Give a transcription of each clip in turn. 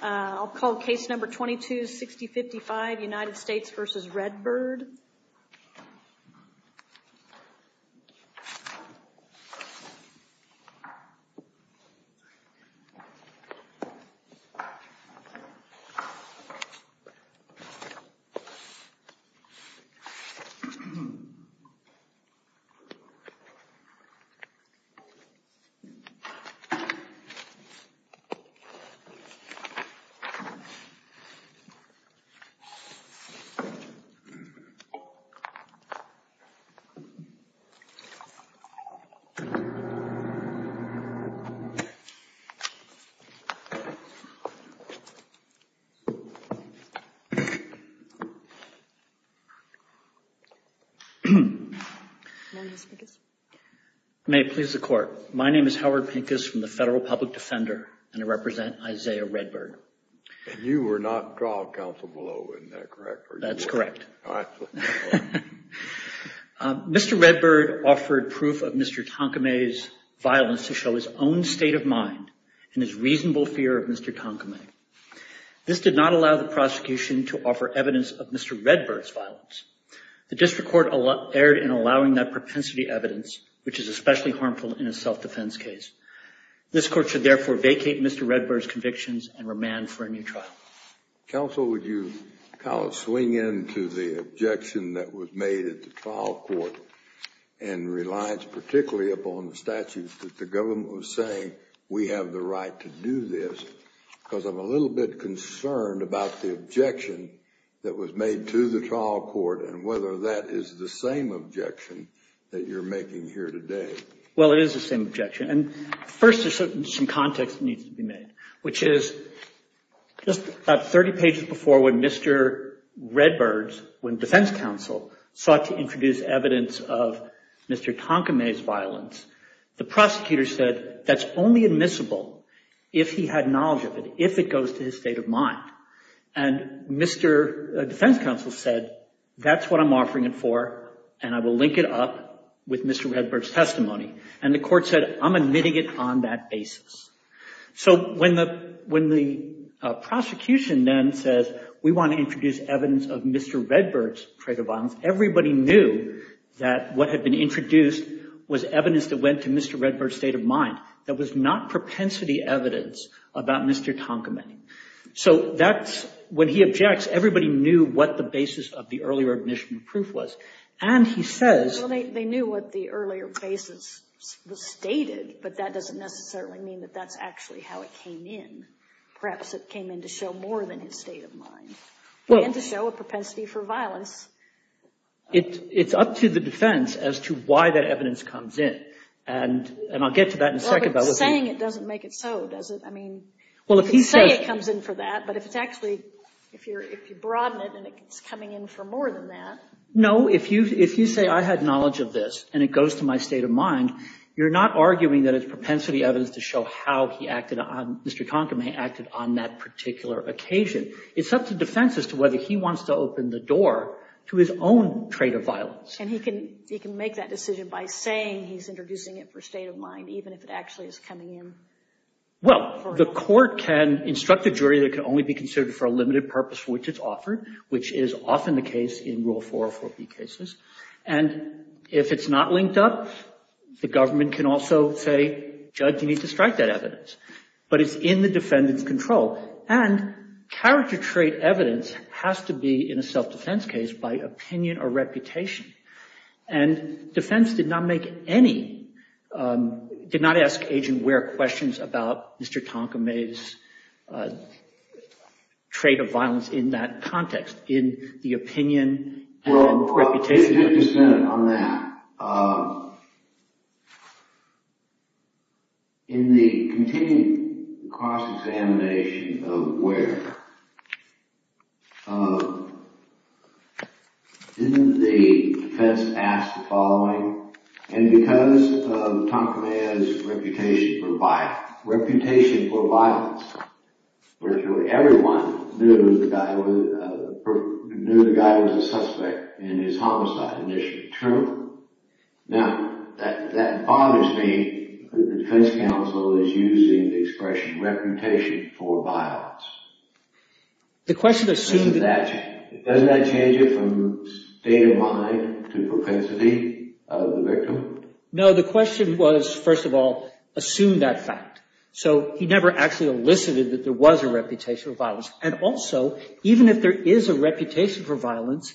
I'll call case number 226055, United States v. Redbird. May it please the Court, my name is Howard Pincus from the Federal Public Defender and Justice Department. I'm here to represent Isaiah Redbird. And you were not trial counsel below, isn't that correct? That's correct. Mr. Redbird offered proof of Mr. Tonkamay's violence to show his own state of mind and his reasonable fear of Mr. Tonkamay. This did not allow the prosecution to offer evidence of Mr. Redbird's violence. The district court erred in allowing that propensity evidence, which is especially harmful in a self-defense case. This court should therefore vacate Mr. Redbird's convictions and remand for a new trial. Counsel, would you kind of swing into the objection that was made at the trial court and reliance particularly upon the statute that the government was saying, we have the right to do this, because I'm a little bit concerned about the objection that was made to the trial court and whether that is the same objection that you're making here today. Well, it is the same objection. First, there's some context that needs to be made, which is just about 30 pages before when Mr. Redbird, when defense counsel, sought to introduce evidence of Mr. Tonkamay's violence, the prosecutor said, that's only admissible if he had knowledge of it, if it goes to his state of mind. And Mr. defense counsel said, that's what I'm offering it for and I will link it up with Mr. Redbird's testimony. And the court said, I'm admitting it on that basis. So when the prosecution then says, we want to introduce evidence of Mr. Redbird's trait of violence, everybody knew that what had been introduced was evidence that went to Mr. Redbird's state of mind, that was not propensity evidence about Mr. Tonkamay. So that's, when he objects, everybody knew what the basis of the earlier admission of proof was. And he says. Well, they knew what the earlier basis was stated, but that doesn't necessarily mean that that's actually how it came in. Perhaps it came in to show more than his state of mind, and to show a propensity for violence. It's up to the defense as to why that evidence comes in. And I'll get to that in a second. But saying it doesn't make it so, does it? I mean, you could say it comes in for that. But if it's actually, if you broaden it and it's coming in for more than that. No, if you say I had knowledge of this, and it goes to my state of mind, you're not arguing that it's propensity evidence to show how he acted on, Mr. Tonkamay acted on that particular occasion. It's up to defense as to whether he wants to open the door to his own trait of violence. And he can make that decision by saying he's introducing it for state of mind, even if it actually is coming in. Well, the court can instruct the jury that it can only be considered for a limited purpose which is offered, which is often the case in Rule 404B cases. And if it's not linked up, the government can also say, judge, you need to strike that evidence. But it's in the defendant's control. And character trait evidence has to be, in a self-defense case, by opinion or reputation. And defense did not make any, did not ask Agent Ware questions about Mr. Tonkamay's trait of violence in that context, in the opinion and reputation. Well, to get to Senate on that, in the continued cross-examination of Ware, didn't the defense ask the following? And because of Tonkamay's reputation for violence, virtually everyone knew the guy was a suspect in his homicide initiative. True? Now, that bothers me that the defense counsel is using the expression reputation for violence. Doesn't that change it from state of mind to propensity of the victim? No, the question was, first of all, assume that fact. So, he never actually elicited that there was a reputation for violence. And also, even if there is a reputation for violence,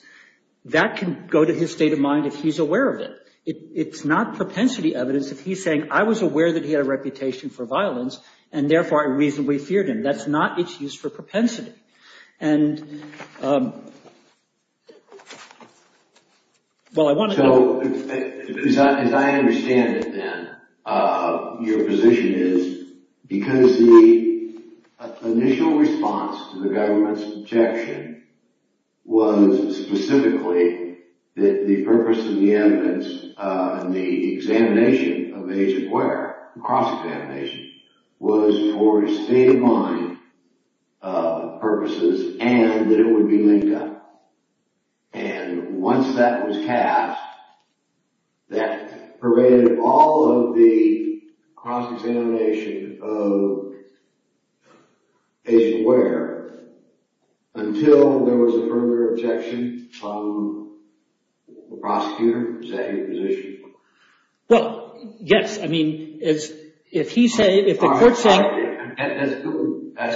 that can go to his state of mind if he's aware of it. It's not propensity evidence if he's saying, I was aware that he had a reputation for violence and therefore I reasonably feared him. That's not its use for propensity. As I understand it then, your position is, because the initial response to the government's objection was specifically that the purpose of the evidence in the examination of Agent Ware was to undermine purposes and that it would be linked up. And once that was cast, that pervaded all of the cross-examination of Agent Ware until there was a further objection from the prosecutor. Is that your position? Well, yes. That's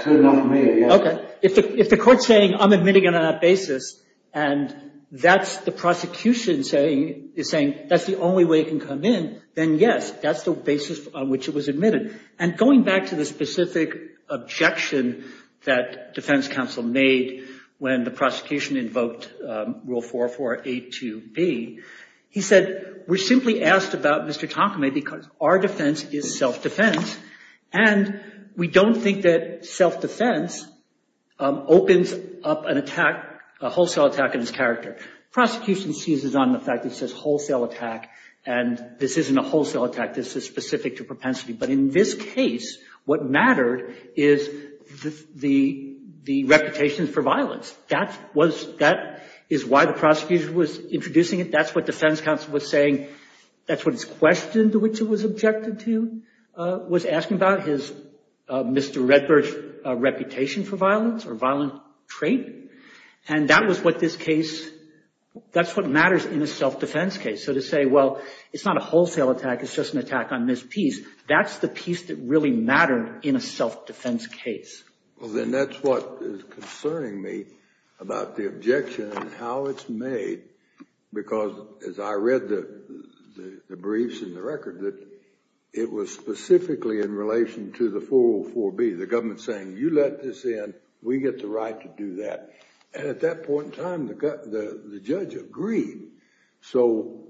good enough for me. If the court's saying I'm admitting it on that basis, and that's the prosecution saying that's the only way it can come in, then yes, that's the basis on which it was admitted. And going back to the specific objection that defense counsel made when the prosecution invoked Rule 4482B, he said, we're simply asked about Mr. Takame because our defense is self-defense and we don't think that self-defense opens up a wholesale attack on his character. Prosecution seizes on the fact that it says wholesale attack and this isn't a wholesale attack. This is specific to propensity. But in this case, what mattered is the reputation for violence. That is why the prosecutor was introducing it. That's what defense counsel was saying. That's what his question to which it was objected to was asking about, his Mr. Redbird's reputation for violence or violent trait. And that was what this case – that's what matters in a self-defense case. So to say, well, it's not a wholesale attack. It's just an attack on Ms. Pease. That's the piece that really mattered in a self-defense case. Well, then that's what is concerning me about the objection and how it's made because as I read the briefs and the record, that it was specifically in relation to the 404B. The government saying, you let this in. We get the right to do that. And at that point in time, the judge agreed. So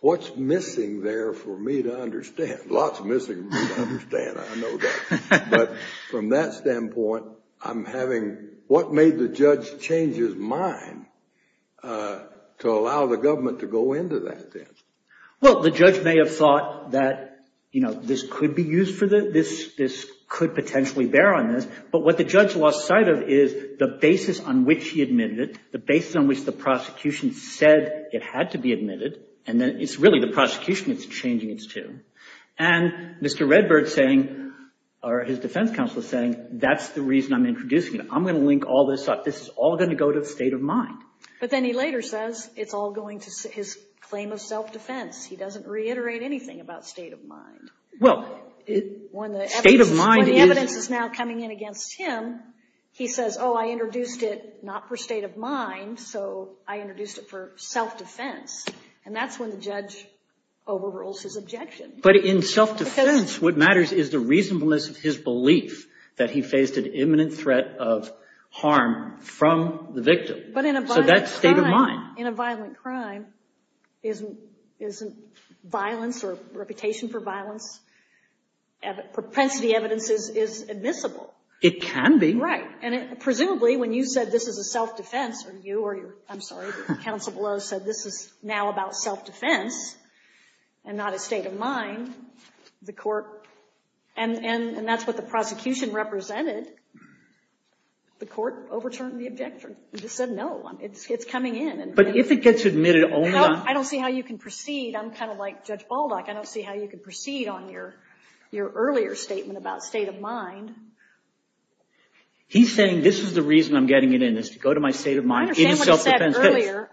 what's missing there for me to understand? Lots missing for me to understand. I know that. But from that standpoint, I'm having – what made the judge change his mind to allow the government to go into that then? Well, the judge may have thought that, you know, this could be used for the – this could potentially bear on this. But what the judge lost sight of is the basis on which he admitted it, the basis on which the prosecution said it had to be admitted. And then it's really the prosecution that's changing its tune. And Mr. Redbird's saying, or his defense counsel is saying, that's the reason I'm introducing it. I'm going to link all this up. This is all going to go to the state of mind. But then he later says it's all going to his claim of self-defense. He doesn't reiterate anything about state of mind. Well, state of mind is – When the evidence is now coming in against him, he says, oh, I introduced it not for state of mind, so I introduced it for self-defense. And that's when the judge overrules his objection. But in self-defense, what matters is the reasonableness of his belief that he faced an imminent threat of harm from the victim. So that's state of mind. But in a violent crime, isn't violence or reputation for violence – propensity evidence is admissible. It can be. Right. And presumably, when you said this is a self-defense, or you or your – I'm sorry, counsel below said this is now about self-defense and not a state of mind, the court – and that's what the prosecution represented. The court overturned the objection. It just said no. It's coming in. But if it gets admitted only on – I don't see how you can proceed. I'm kind of like Judge Baldock. I don't see how you can proceed on your earlier statement about state of mind. He's saying this is the reason I'm getting it in, is to go to my state of mind in self-defense.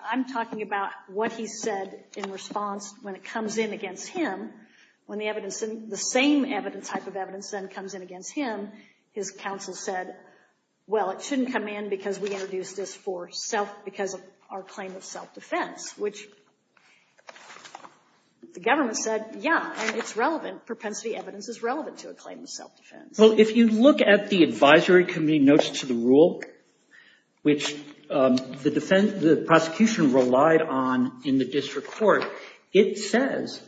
I'm talking about what he said in response when it comes in against him. When the evidence – the same type of evidence then comes in against him, his counsel said, well, it shouldn't come in because we introduced this for self – because of our claim of self-defense, which the government said, yeah, and it's relevant. Propensity evidence is relevant to a claim of self-defense. Well, if you look at the advisory committee notes to the rule, which the prosecution relied on in the district court, it says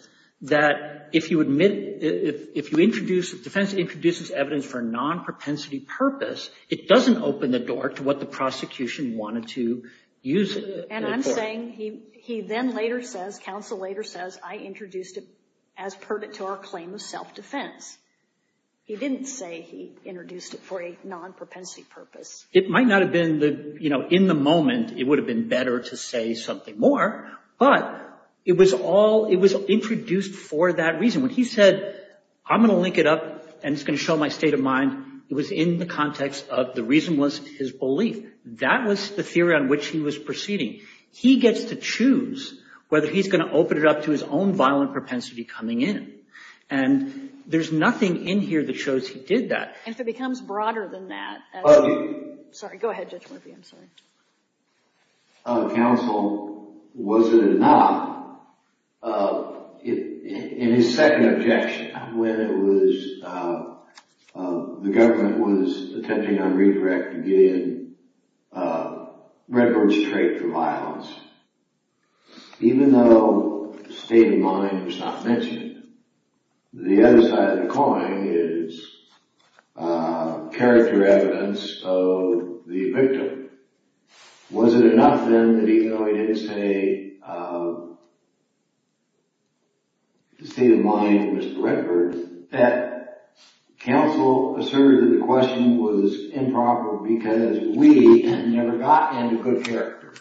that if you admit – if you introduce – if defense introduces evidence for a non-propensity purpose, it doesn't open the door to what the prosecution wanted to use it for. And I'm saying he then later says – counsel later says, I introduced it as pertinent to our claim of self-defense. He didn't say he introduced it for a non-propensity purpose. It might not have been – in the moment, it would have been better to say something more, but it was all – it was introduced for that reason. When he said, I'm going to link it up and it's going to show my state of mind, it was in the context of the reason was his belief. That was the theory on which he was proceeding. He gets to choose whether he's going to open it up to his own violent propensity coming in. And there's nothing in here that shows he did that. And if it becomes broader than that – Oh. Sorry. Go ahead, Judge Murphy. I'm sorry. Counsel, was it or not, in his second objection, when it was – the government was attempting on redirect to get in Redbird's trait for violence, even though the state of mind was not mentioned, the other side of the coin is character evidence of the victim. Was it enough then that even though he didn't say the state of mind of Mr. Redbird, that counsel asserted that the question was improper because we never got into good character,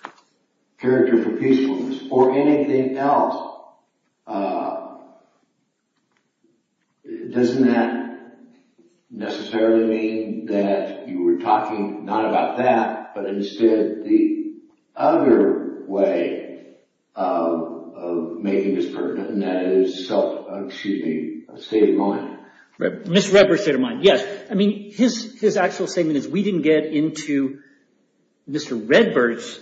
character for peacefulness, or anything else, doesn't that necessarily mean that you were talking not about that, but instead the other way of making this pertinent, and that is state of mind? Mr. Redbird's state of mind, yes. I mean, his actual statement is we didn't get into Mr. Redbird's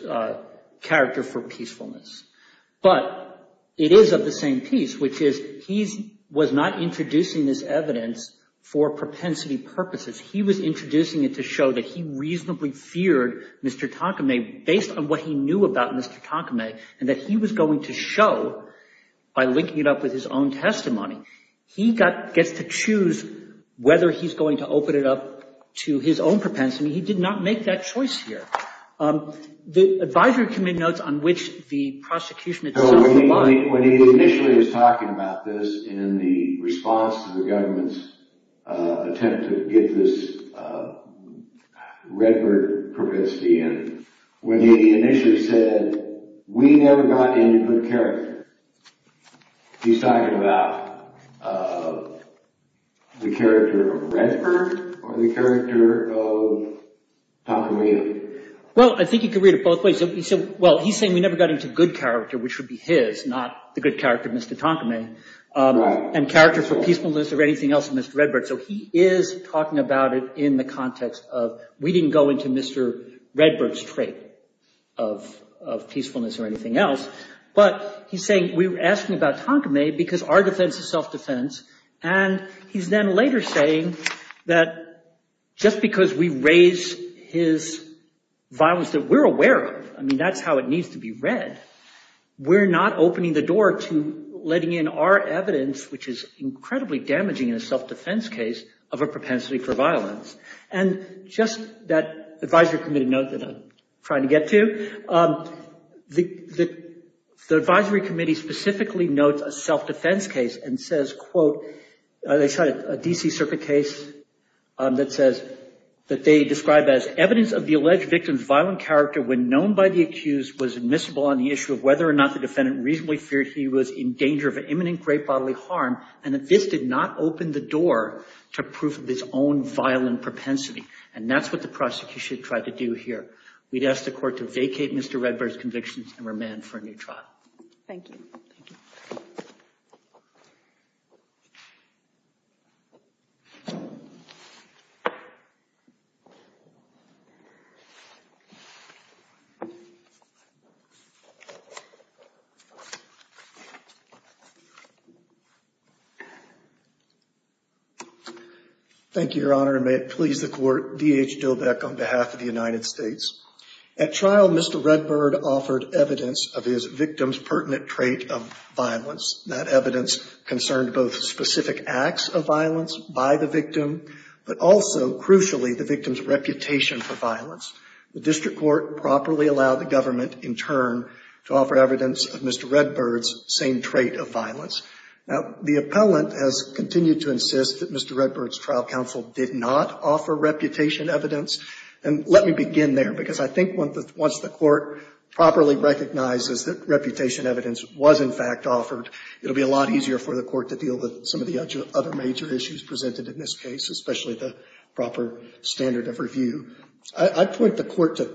character for peacefulness. But it is of the same piece, which is he was not introducing this evidence for propensity purposes. He was introducing it to show that he reasonably feared Mr. Takame based on what he knew about Mr. Takame, and that he was going to show by linking it up with his own testimony. He gets to choose whether he's going to open it up to his own propensity. He did not make that choice here. The advisory committee notes on which the prosecution itself – When he initially was talking about this in the response to the government's attempt to get this Redbird propensity in, when he initially said, we never got into good character, he's talking about the character of Redbird or the character of Takame? Well, I think you could read it both ways. He's saying we never got into good character, which would be his, not the good character of Mr. Takame, and character for peacefulness or anything else of Mr. Redbird. So he is talking about it in the context of we didn't go into Mr. Redbird's trait of peacefulness or anything else. But he's saying we were asking about Takame because our defense is self-defense, and he's then later saying that just because we raise his violence that we're aware of, I mean, that's how it needs to be read. We're not opening the door to letting in our evidence, which is incredibly damaging in a self-defense case of a propensity for violence. And just that advisory committee note that I'm trying to get to, the advisory committee specifically notes a self-defense case and says, quote, they cite a D.C. Circuit case that says that they describe as evidence of the alleged victim's violent character when known by the accused was admissible on the issue of whether or not the defendant reasonably feared he was in danger of imminent great bodily harm and that this did not open the door to proof of his own violent propensity. And that's what the prosecution tried to do here. We'd ask the court to vacate Mr. Redbird's convictions and remand for a new trial. Thank you. Thank you, Your Honor, and may it please the court, D.H. Dillbeck on behalf of the United States. At trial, Mr. Redbird offered evidence of his victim's pertinent trait of violence. That evidence concerned both specific acts of violence by the victim, but also, crucially, the victim's reputation for violence. The district court properly allowed the government, in turn, to offer evidence of Mr. Redbird's same trait of violence. Now, the appellant has continued to insist that Mr. Redbird's trial counsel did not offer reputation evidence. And let me begin there, because I think once the court properly recognizes that reputation evidence was, in fact, offered, it will be a lot easier for the court to deal with some of the other major issues presented in this case, especially the proper standard of review. I point the court to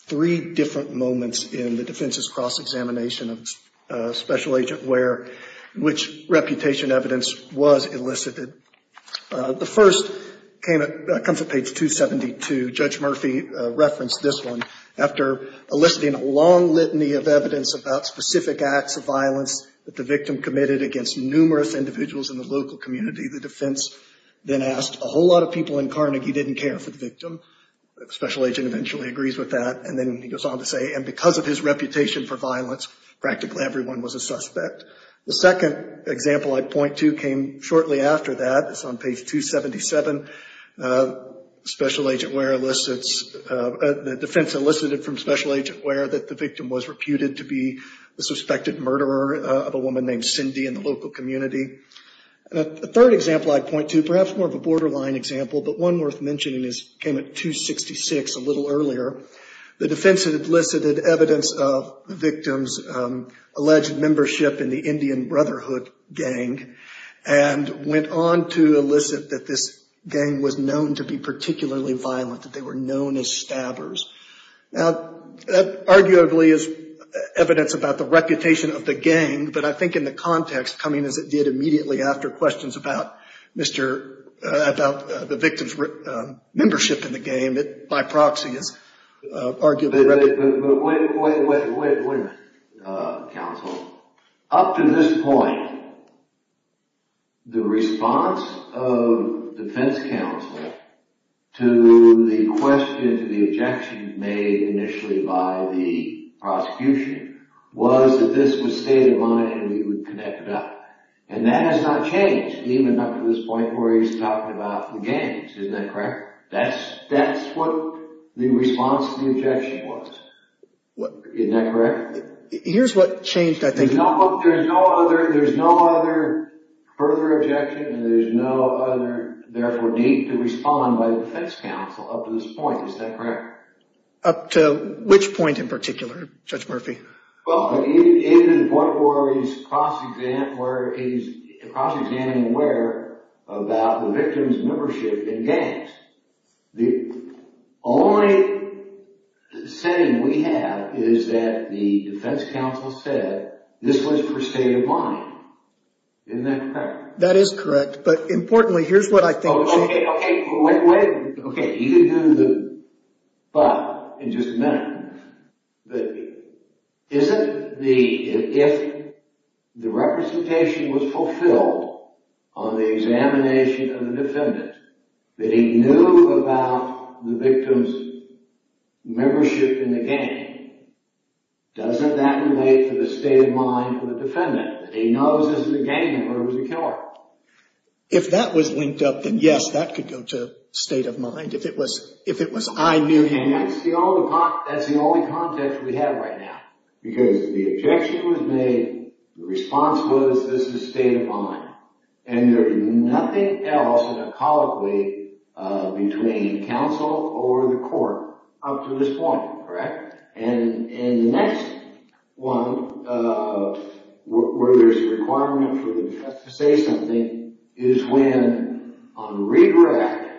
three different moments in the defense's cross-examination of Special Agent Ware in which reputation evidence was elicited. The first comes at page 272. Judge Murphy referenced this one. After eliciting a long litany of evidence about specific acts of violence that the victim committed against numerous individuals in the local community, the defense then asked, a whole lot of people in Carnegie didn't care for the victim. Special Agent eventually agrees with that, and then he goes on to say, The second example I point to came shortly after that. It's on page 277. Special Agent Ware elicits the defense elicited from Special Agent Ware that the victim was reputed to be the suspected murderer of a woman named Cindy in the local community. The third example I point to, perhaps more of a borderline example, but one worth mentioning came at 266 a little earlier. The defense had elicited evidence of the victim's alleged membership in the Indian Brotherhood gang and went on to elicit that this gang was known to be particularly violent, that they were known as stabbers. Now, that arguably is evidence about the reputation of the gang, but I think in the context coming as it did immediately after questions about the victim's membership in the gang, it by proxy is arguably relevant. But wait a minute, counsel. Up to this point, the response of defense counsel to the question, to the objection made initially by the prosecution was that this was state of mind and we would connect it up. And that has not changed, even up to this point where he's talking about the gangs. Isn't that correct? That's what the response to the objection was. Isn't that correct? Here's what changed, I think. There's no other further objection and there's no other, therefore, need to respond by the defense counsel up to this point. Is that correct? Up to which point in particular, Judge Murphy? Well, even to the point where he's cross-examining where about the victim's membership in gangs. The only setting we have is that the defense counsel said this was for state of mind. Isn't that correct? That is correct, but importantly, here's what I think changed. Okay, you can do the but in just a minute. Isn't the, if the representation was fulfilled on the examination of the defendant, that he knew about the victim's membership in the gang, doesn't that relate to the state of mind of the defendant? He knows this is a gang member who's a killer. If that was linked up, then yes, that could go to state of mind. If it was I knew him. That's the only context we have right now. Because the objection was made, the response was this is state of mind. And there's nothing else in a colloquy between counsel or the court up to this point. Correct? Correct. And the next one where there's a requirement for the defense to say something is when on redraft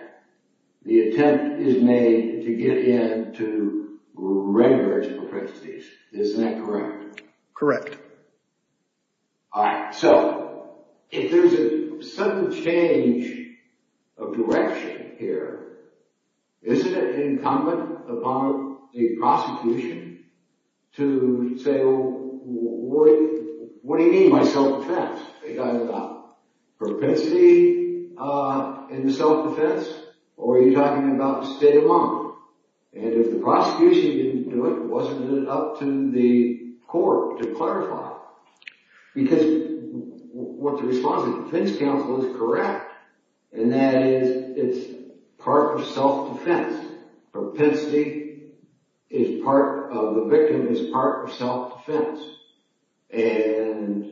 the attempt is made to get in to reimburse the propensities. Isn't that correct? Correct. All right. So if there's a sudden change of direction here, isn't it incumbent upon the prosecution to say, well, what do you mean by self-defense? Are you talking about propensity in the self-defense? Or are you talking about state of mind? And if the prosecution didn't do it, wasn't it up to the court to clarify? Because what the response of the defense counsel is correct, and that is it's part of self-defense. Propensity is part of the victim is part of self-defense. And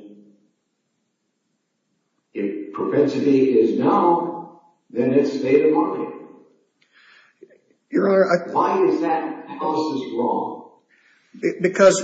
if propensity is known, then it's state of mind. Your Honor, I Why is that counsel's wrong? Because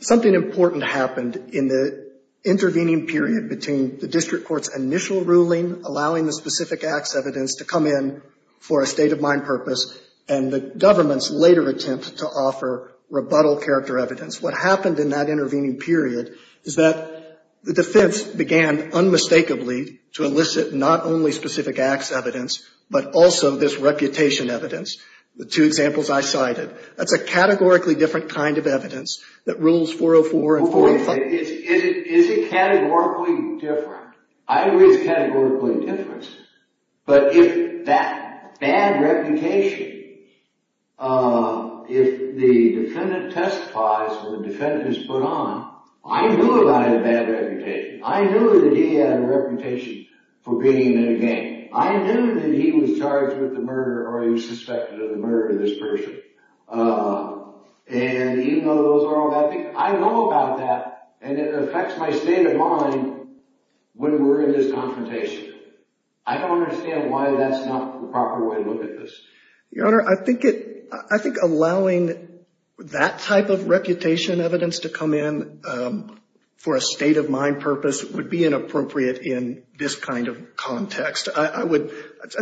something important happened in the intervening period between the district court's initial ruling allowing the specific acts evidence to come in for a state of mind purpose and the government's later attempt to offer rebuttal character evidence. What happened in that intervening period is that the defense began unmistakably to elicit not only specific acts evidence, but also this reputation evidence, the two examples I cited. That's a categorically different kind of evidence that rules 404 and 405. Is it categorically different? I agree it's categorically different. But if that bad reputation, if the defendant testifies or the defendant is put on, I knew about his bad reputation. I knew that he had a reputation for being in a gang. I knew that he was charged with the murder or he was suspected of the murder of this person. And even though those are all bad things, I know about that and it affects my state of mind when we're in this confrontation. I don't understand why that's not the proper way to look at this. Your Honor, I think allowing that type of reputation evidence to come in for a state-of-mind purpose would be inappropriate in this kind of context. I would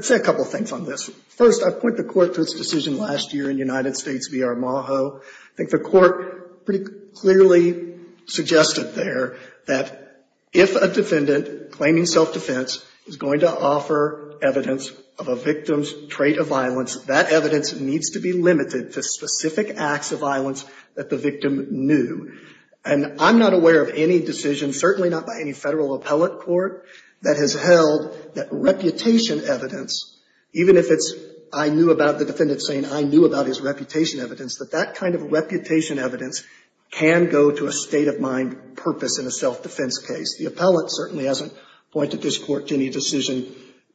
say a couple of things on this. First, I point the Court to its decision last year in United States v. Armajo. I think the Court pretty clearly suggested there that if a defendant claiming self-defense is going to offer evidence of a victim's trait of violence, that evidence needs to be limited to specific acts of violence that the victim knew. And I'm not aware of any decision, certainly not by any federal appellate court, that has held that reputation evidence, even if it's I knew about the defendant saying I knew about his reputation evidence, that that kind of reputation evidence can go to a state-of-mind purpose in a self-defense case. The appellate certainly hasn't pointed this Court to any decision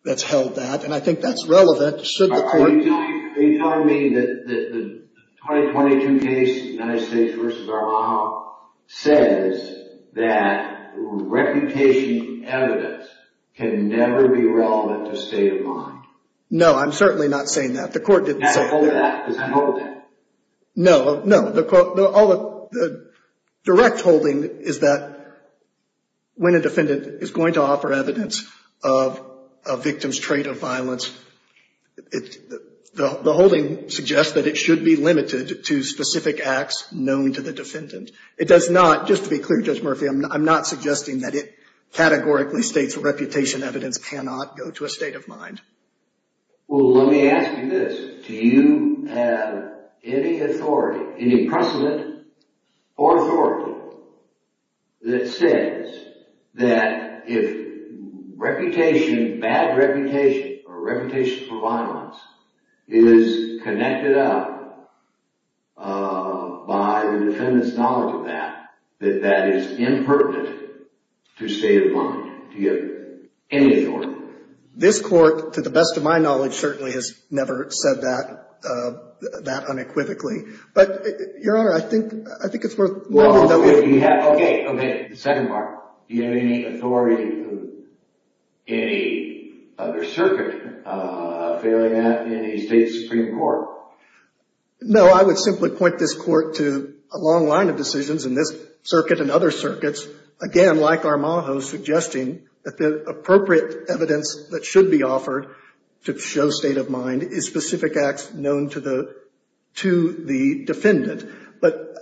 that's held that. And I think that's relevant should the Court – No, I'm certainly not saying that. The Court didn't say that. No, no, the direct holding is that when a defendant is going to offer evidence of a victim's trait of violence, the holding suggests that it should be limited to specific acts known to the defendant. It does not, just to be clear, Judge Murphy, I'm not suggesting that it categorically states that reputation evidence cannot go to a state of mind. Well, let me ask you this. Do you have any authority, any precedent or authority that says that if reputation, bad reputation or reputation for violence is connected up by the defendant's knowledge of that, that that is impertinent to state of mind? Do you have any authority? This Court, to the best of my knowledge, certainly has never said that unequivocally. But, Your Honor, I think it's worth wondering. Okay, okay, the second part. Do you have any authority of any other circuit failing that in a state supreme court? No, I would simply point this Court to a long line of decisions in this circuit and other circuits, again, like Armajo, suggesting that the appropriate evidence that should be offered to show state of mind is specific acts known to the defendant. But,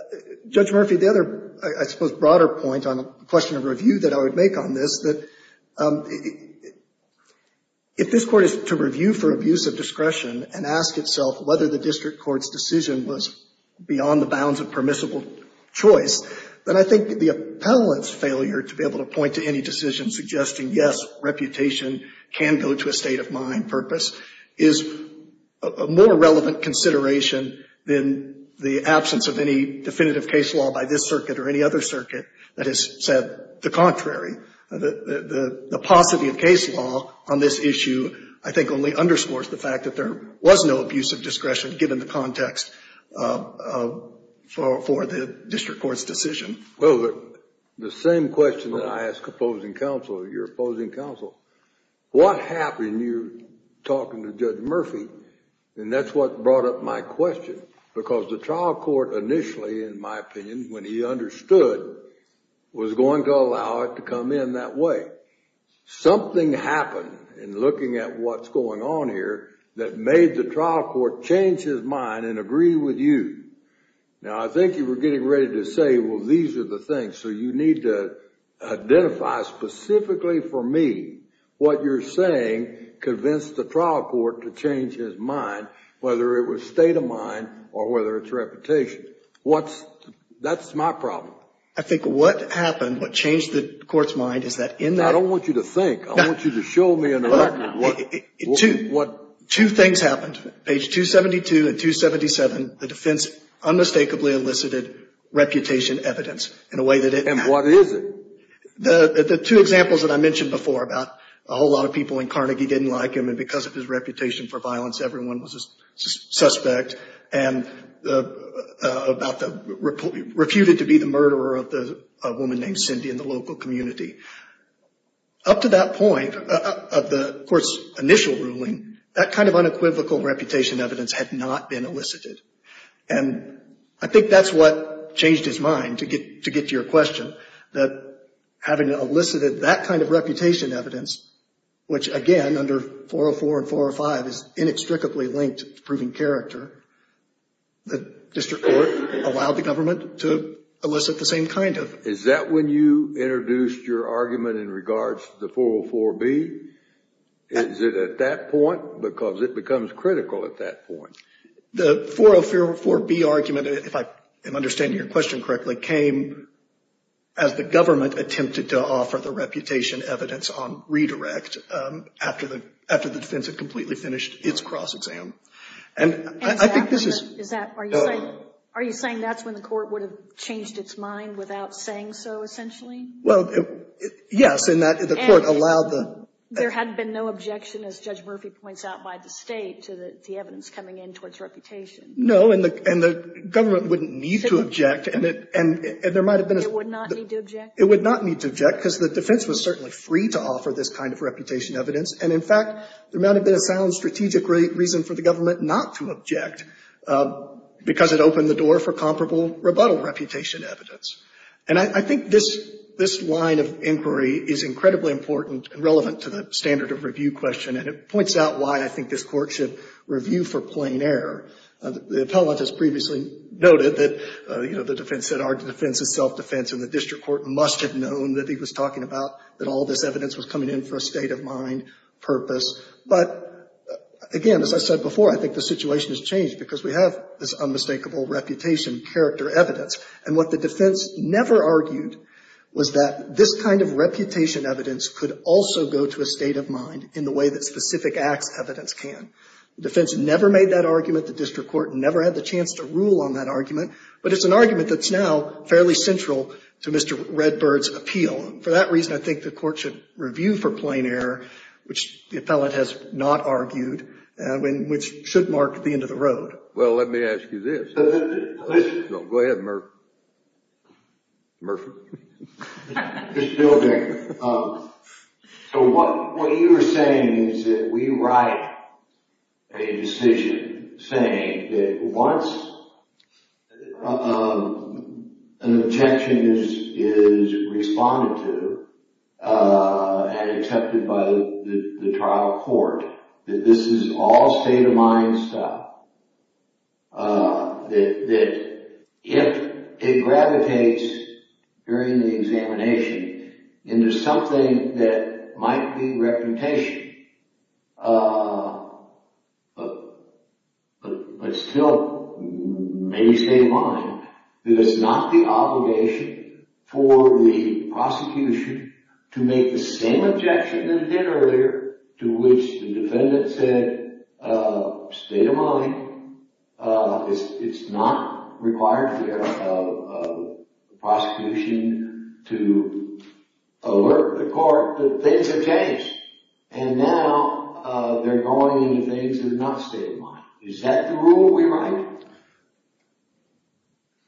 Judge Murphy, the other, I suppose, broader point on a question of review that I would make on this, that if this Court is to review for abuse of discretion and ask itself whether the district court's decision was beyond the bounds of permissible choice, then I think the appellant's failure to be able to point to any decision suggesting, yes, reputation can go to a state of mind purpose, is a more relevant consideration than the absence of any definitive case law by this circuit or any other circuit that has said the contrary. The paucity of case law on this issue I think only underscores the fact that there was no abuse of discretion given the context for the district court's decision. Well, the same question that I ask opposing counsel, your opposing counsel, what happened when you were talking to Judge Murphy? And that's what brought up my question, because the trial court initially, in my opinion, when he understood, was going to allow it to come in that way. Something happened in looking at what's going on here that made the trial court change his mind and agree with you. Now, I think you were getting ready to say, well, these are the things, so you need to identify specifically for me what you're saying convinced the trial court to change his mind, whether it was state of mind or whether it's reputation. That's my problem. I think what happened, what changed the court's mind is that in that ---- I don't want you to think. I want you to show me in the record what ---- Two things happened. Page 272 and 277, the defense unmistakably elicited reputation evidence in a way that it ---- And what is it? The two examples that I mentioned before about a whole lot of people in Carnegie didn't like him, and because of his reputation for violence, everyone was a suspect, and about the ---- refuted to be the murderer of a woman named Cindy in the local community. Up to that point of the court's initial ruling, that kind of unequivocal reputation evidence had not been elicited. And I think that's what changed his mind, to get to your question, that having elicited that kind of reputation evidence, which again under 404 and 405 is inextricably linked to proven character, the district court allowed the government to elicit the same kind of ---- Is that when you introduced your argument in regards to the 404B? Is it at that point? Because it becomes critical at that point. The 404B argument, if I am understanding your question correctly, came as the government attempted to offer the reputation evidence on redirect after the defense had completely finished its cross-exam. And I think this is ---- Is that, are you saying that's when the court would have changed its mind without saying so, essentially? Well, yes, in that the court allowed the ---- There had been no objection, as Judge Murphy points out, by the state to the No, and the government wouldn't need to object. And there might have been a ---- It would not need to object? It would not need to object, because the defense was certainly free to offer this kind of reputation evidence. And in fact, there might have been a sound strategic reason for the government not to object, because it opened the door for comparable rebuttal reputation evidence. And I think this line of inquiry is incredibly important and relevant to the standard of review question. And it points out why I think this court should review for plain error. The appellant has previously noted that, you know, the defense said our defense is self-defense, and the district court must have known that he was talking about that all this evidence was coming in for a state-of-mind purpose. But again, as I said before, I think the situation has changed because we have this unmistakable reputation character evidence. And what the defense never argued was that this kind of reputation evidence could also go to a state-of-mind in the way that specific acts evidence can. The defense never made that argument. The district court never had the chance to rule on that argument. But it's an argument that's now fairly central to Mr. Redbird's appeal. And for that reason, I think the court should review for plain error, which the appellant has not argued, which should mark the end of the road. Well, let me ask you this. Go ahead, Murph. Murph? Just a little bit. So what you are saying is that we write a decision saying that once an objection is responded to and accepted by the trial court, that this is all state-of-mind stuff, that if it gravitates during the examination into something that might be reputation but still may stay in mind, that it's not the obligation for the prosecution to make the same objection that it did earlier to which the defendant said, state-of-mind, it's not required here of the prosecution to alert the court that things have changed. And now they're going into things that are not state-of-mind. Is that the rule we write?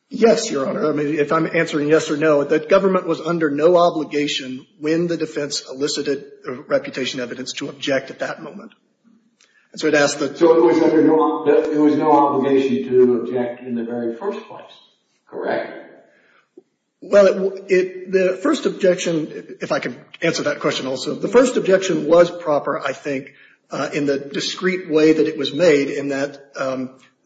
Yes, Your Honor. I mean, if I'm answering yes or no, the government was under no obligation when the defense elicited reputation evidence to object at that moment. So it was under no obligation to object in the very first place, correct? Well, the first objection, if I can answer that question also, the first objection was proper, I think, in the discreet way that it was made in that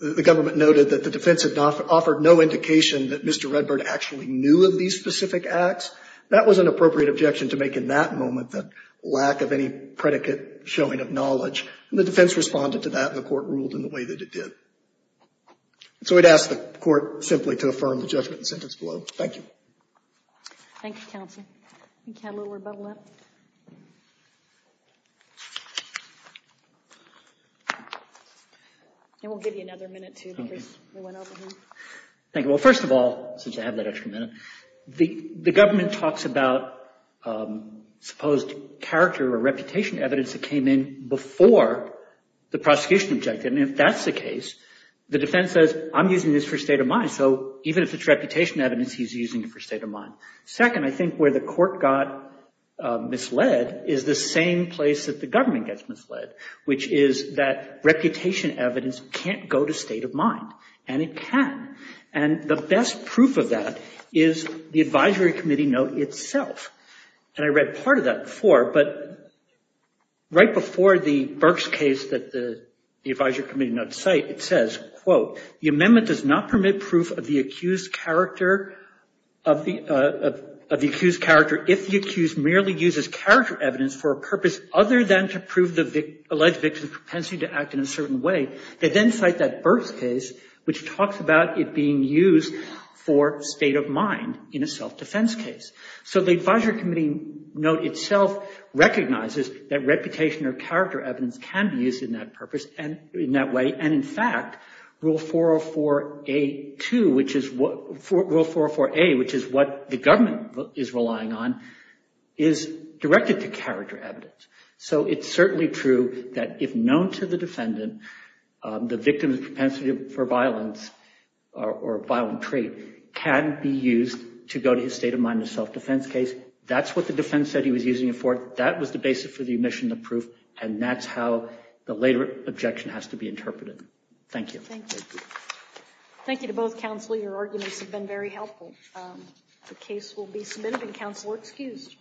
the government noted that the defense had offered no indication that Mr. Redbird actually knew of these specific acts. That was an appropriate objection to make in that moment, the lack of any predicate showing of knowledge. And the defense responded to that, and the court ruled in the way that it did. So I'd ask the court simply to affirm the judgment in the sentence below. Thank you. Thank you, counsel. You can have a little rebuttal now. And we'll give you another minute, too, because we went over here. Thank you. Well, first of all, since I have that extra minute, the government talks about supposed character or reputation evidence that came in before the prosecution objected. And if that's the case, the defense says, I'm using this for state of mind. So even if it's reputation evidence, he's using it for state of mind. Second, I think where the court got misled is the same place that the government gets misled, which is that reputation evidence can't go to state of mind, and it can. And the best proof of that is the advisory committee note itself. And I read part of that before, but right before the Burks case that the advisory committee note cite, it says, quote, the amendment does not permit proof of the accused character if the accused merely uses character evidence for a purpose other than to prove the alleged victim's propensity to act in a certain way. They then cite that Burks case, which talks about it being used for state of mind in a self-defense case. So the advisory committee note itself recognizes that reputation or character evidence can be used in that purpose and in that way. And in fact, Rule 404A, which is what the government is relying on, is directed to character evidence. So it's certainly true that if known to the defendant, the victim's propensity for violence or violent trait can be used to go to his state of mind in a self-defense case. That's what the defense said he was using it for. That was the basis for the omission of proof, and that's how the later objection has to be interpreted. Thank you. Thank you. Thank you to both counsel. Your arguments have been very helpful. The case will be submitted, and counsel are excused.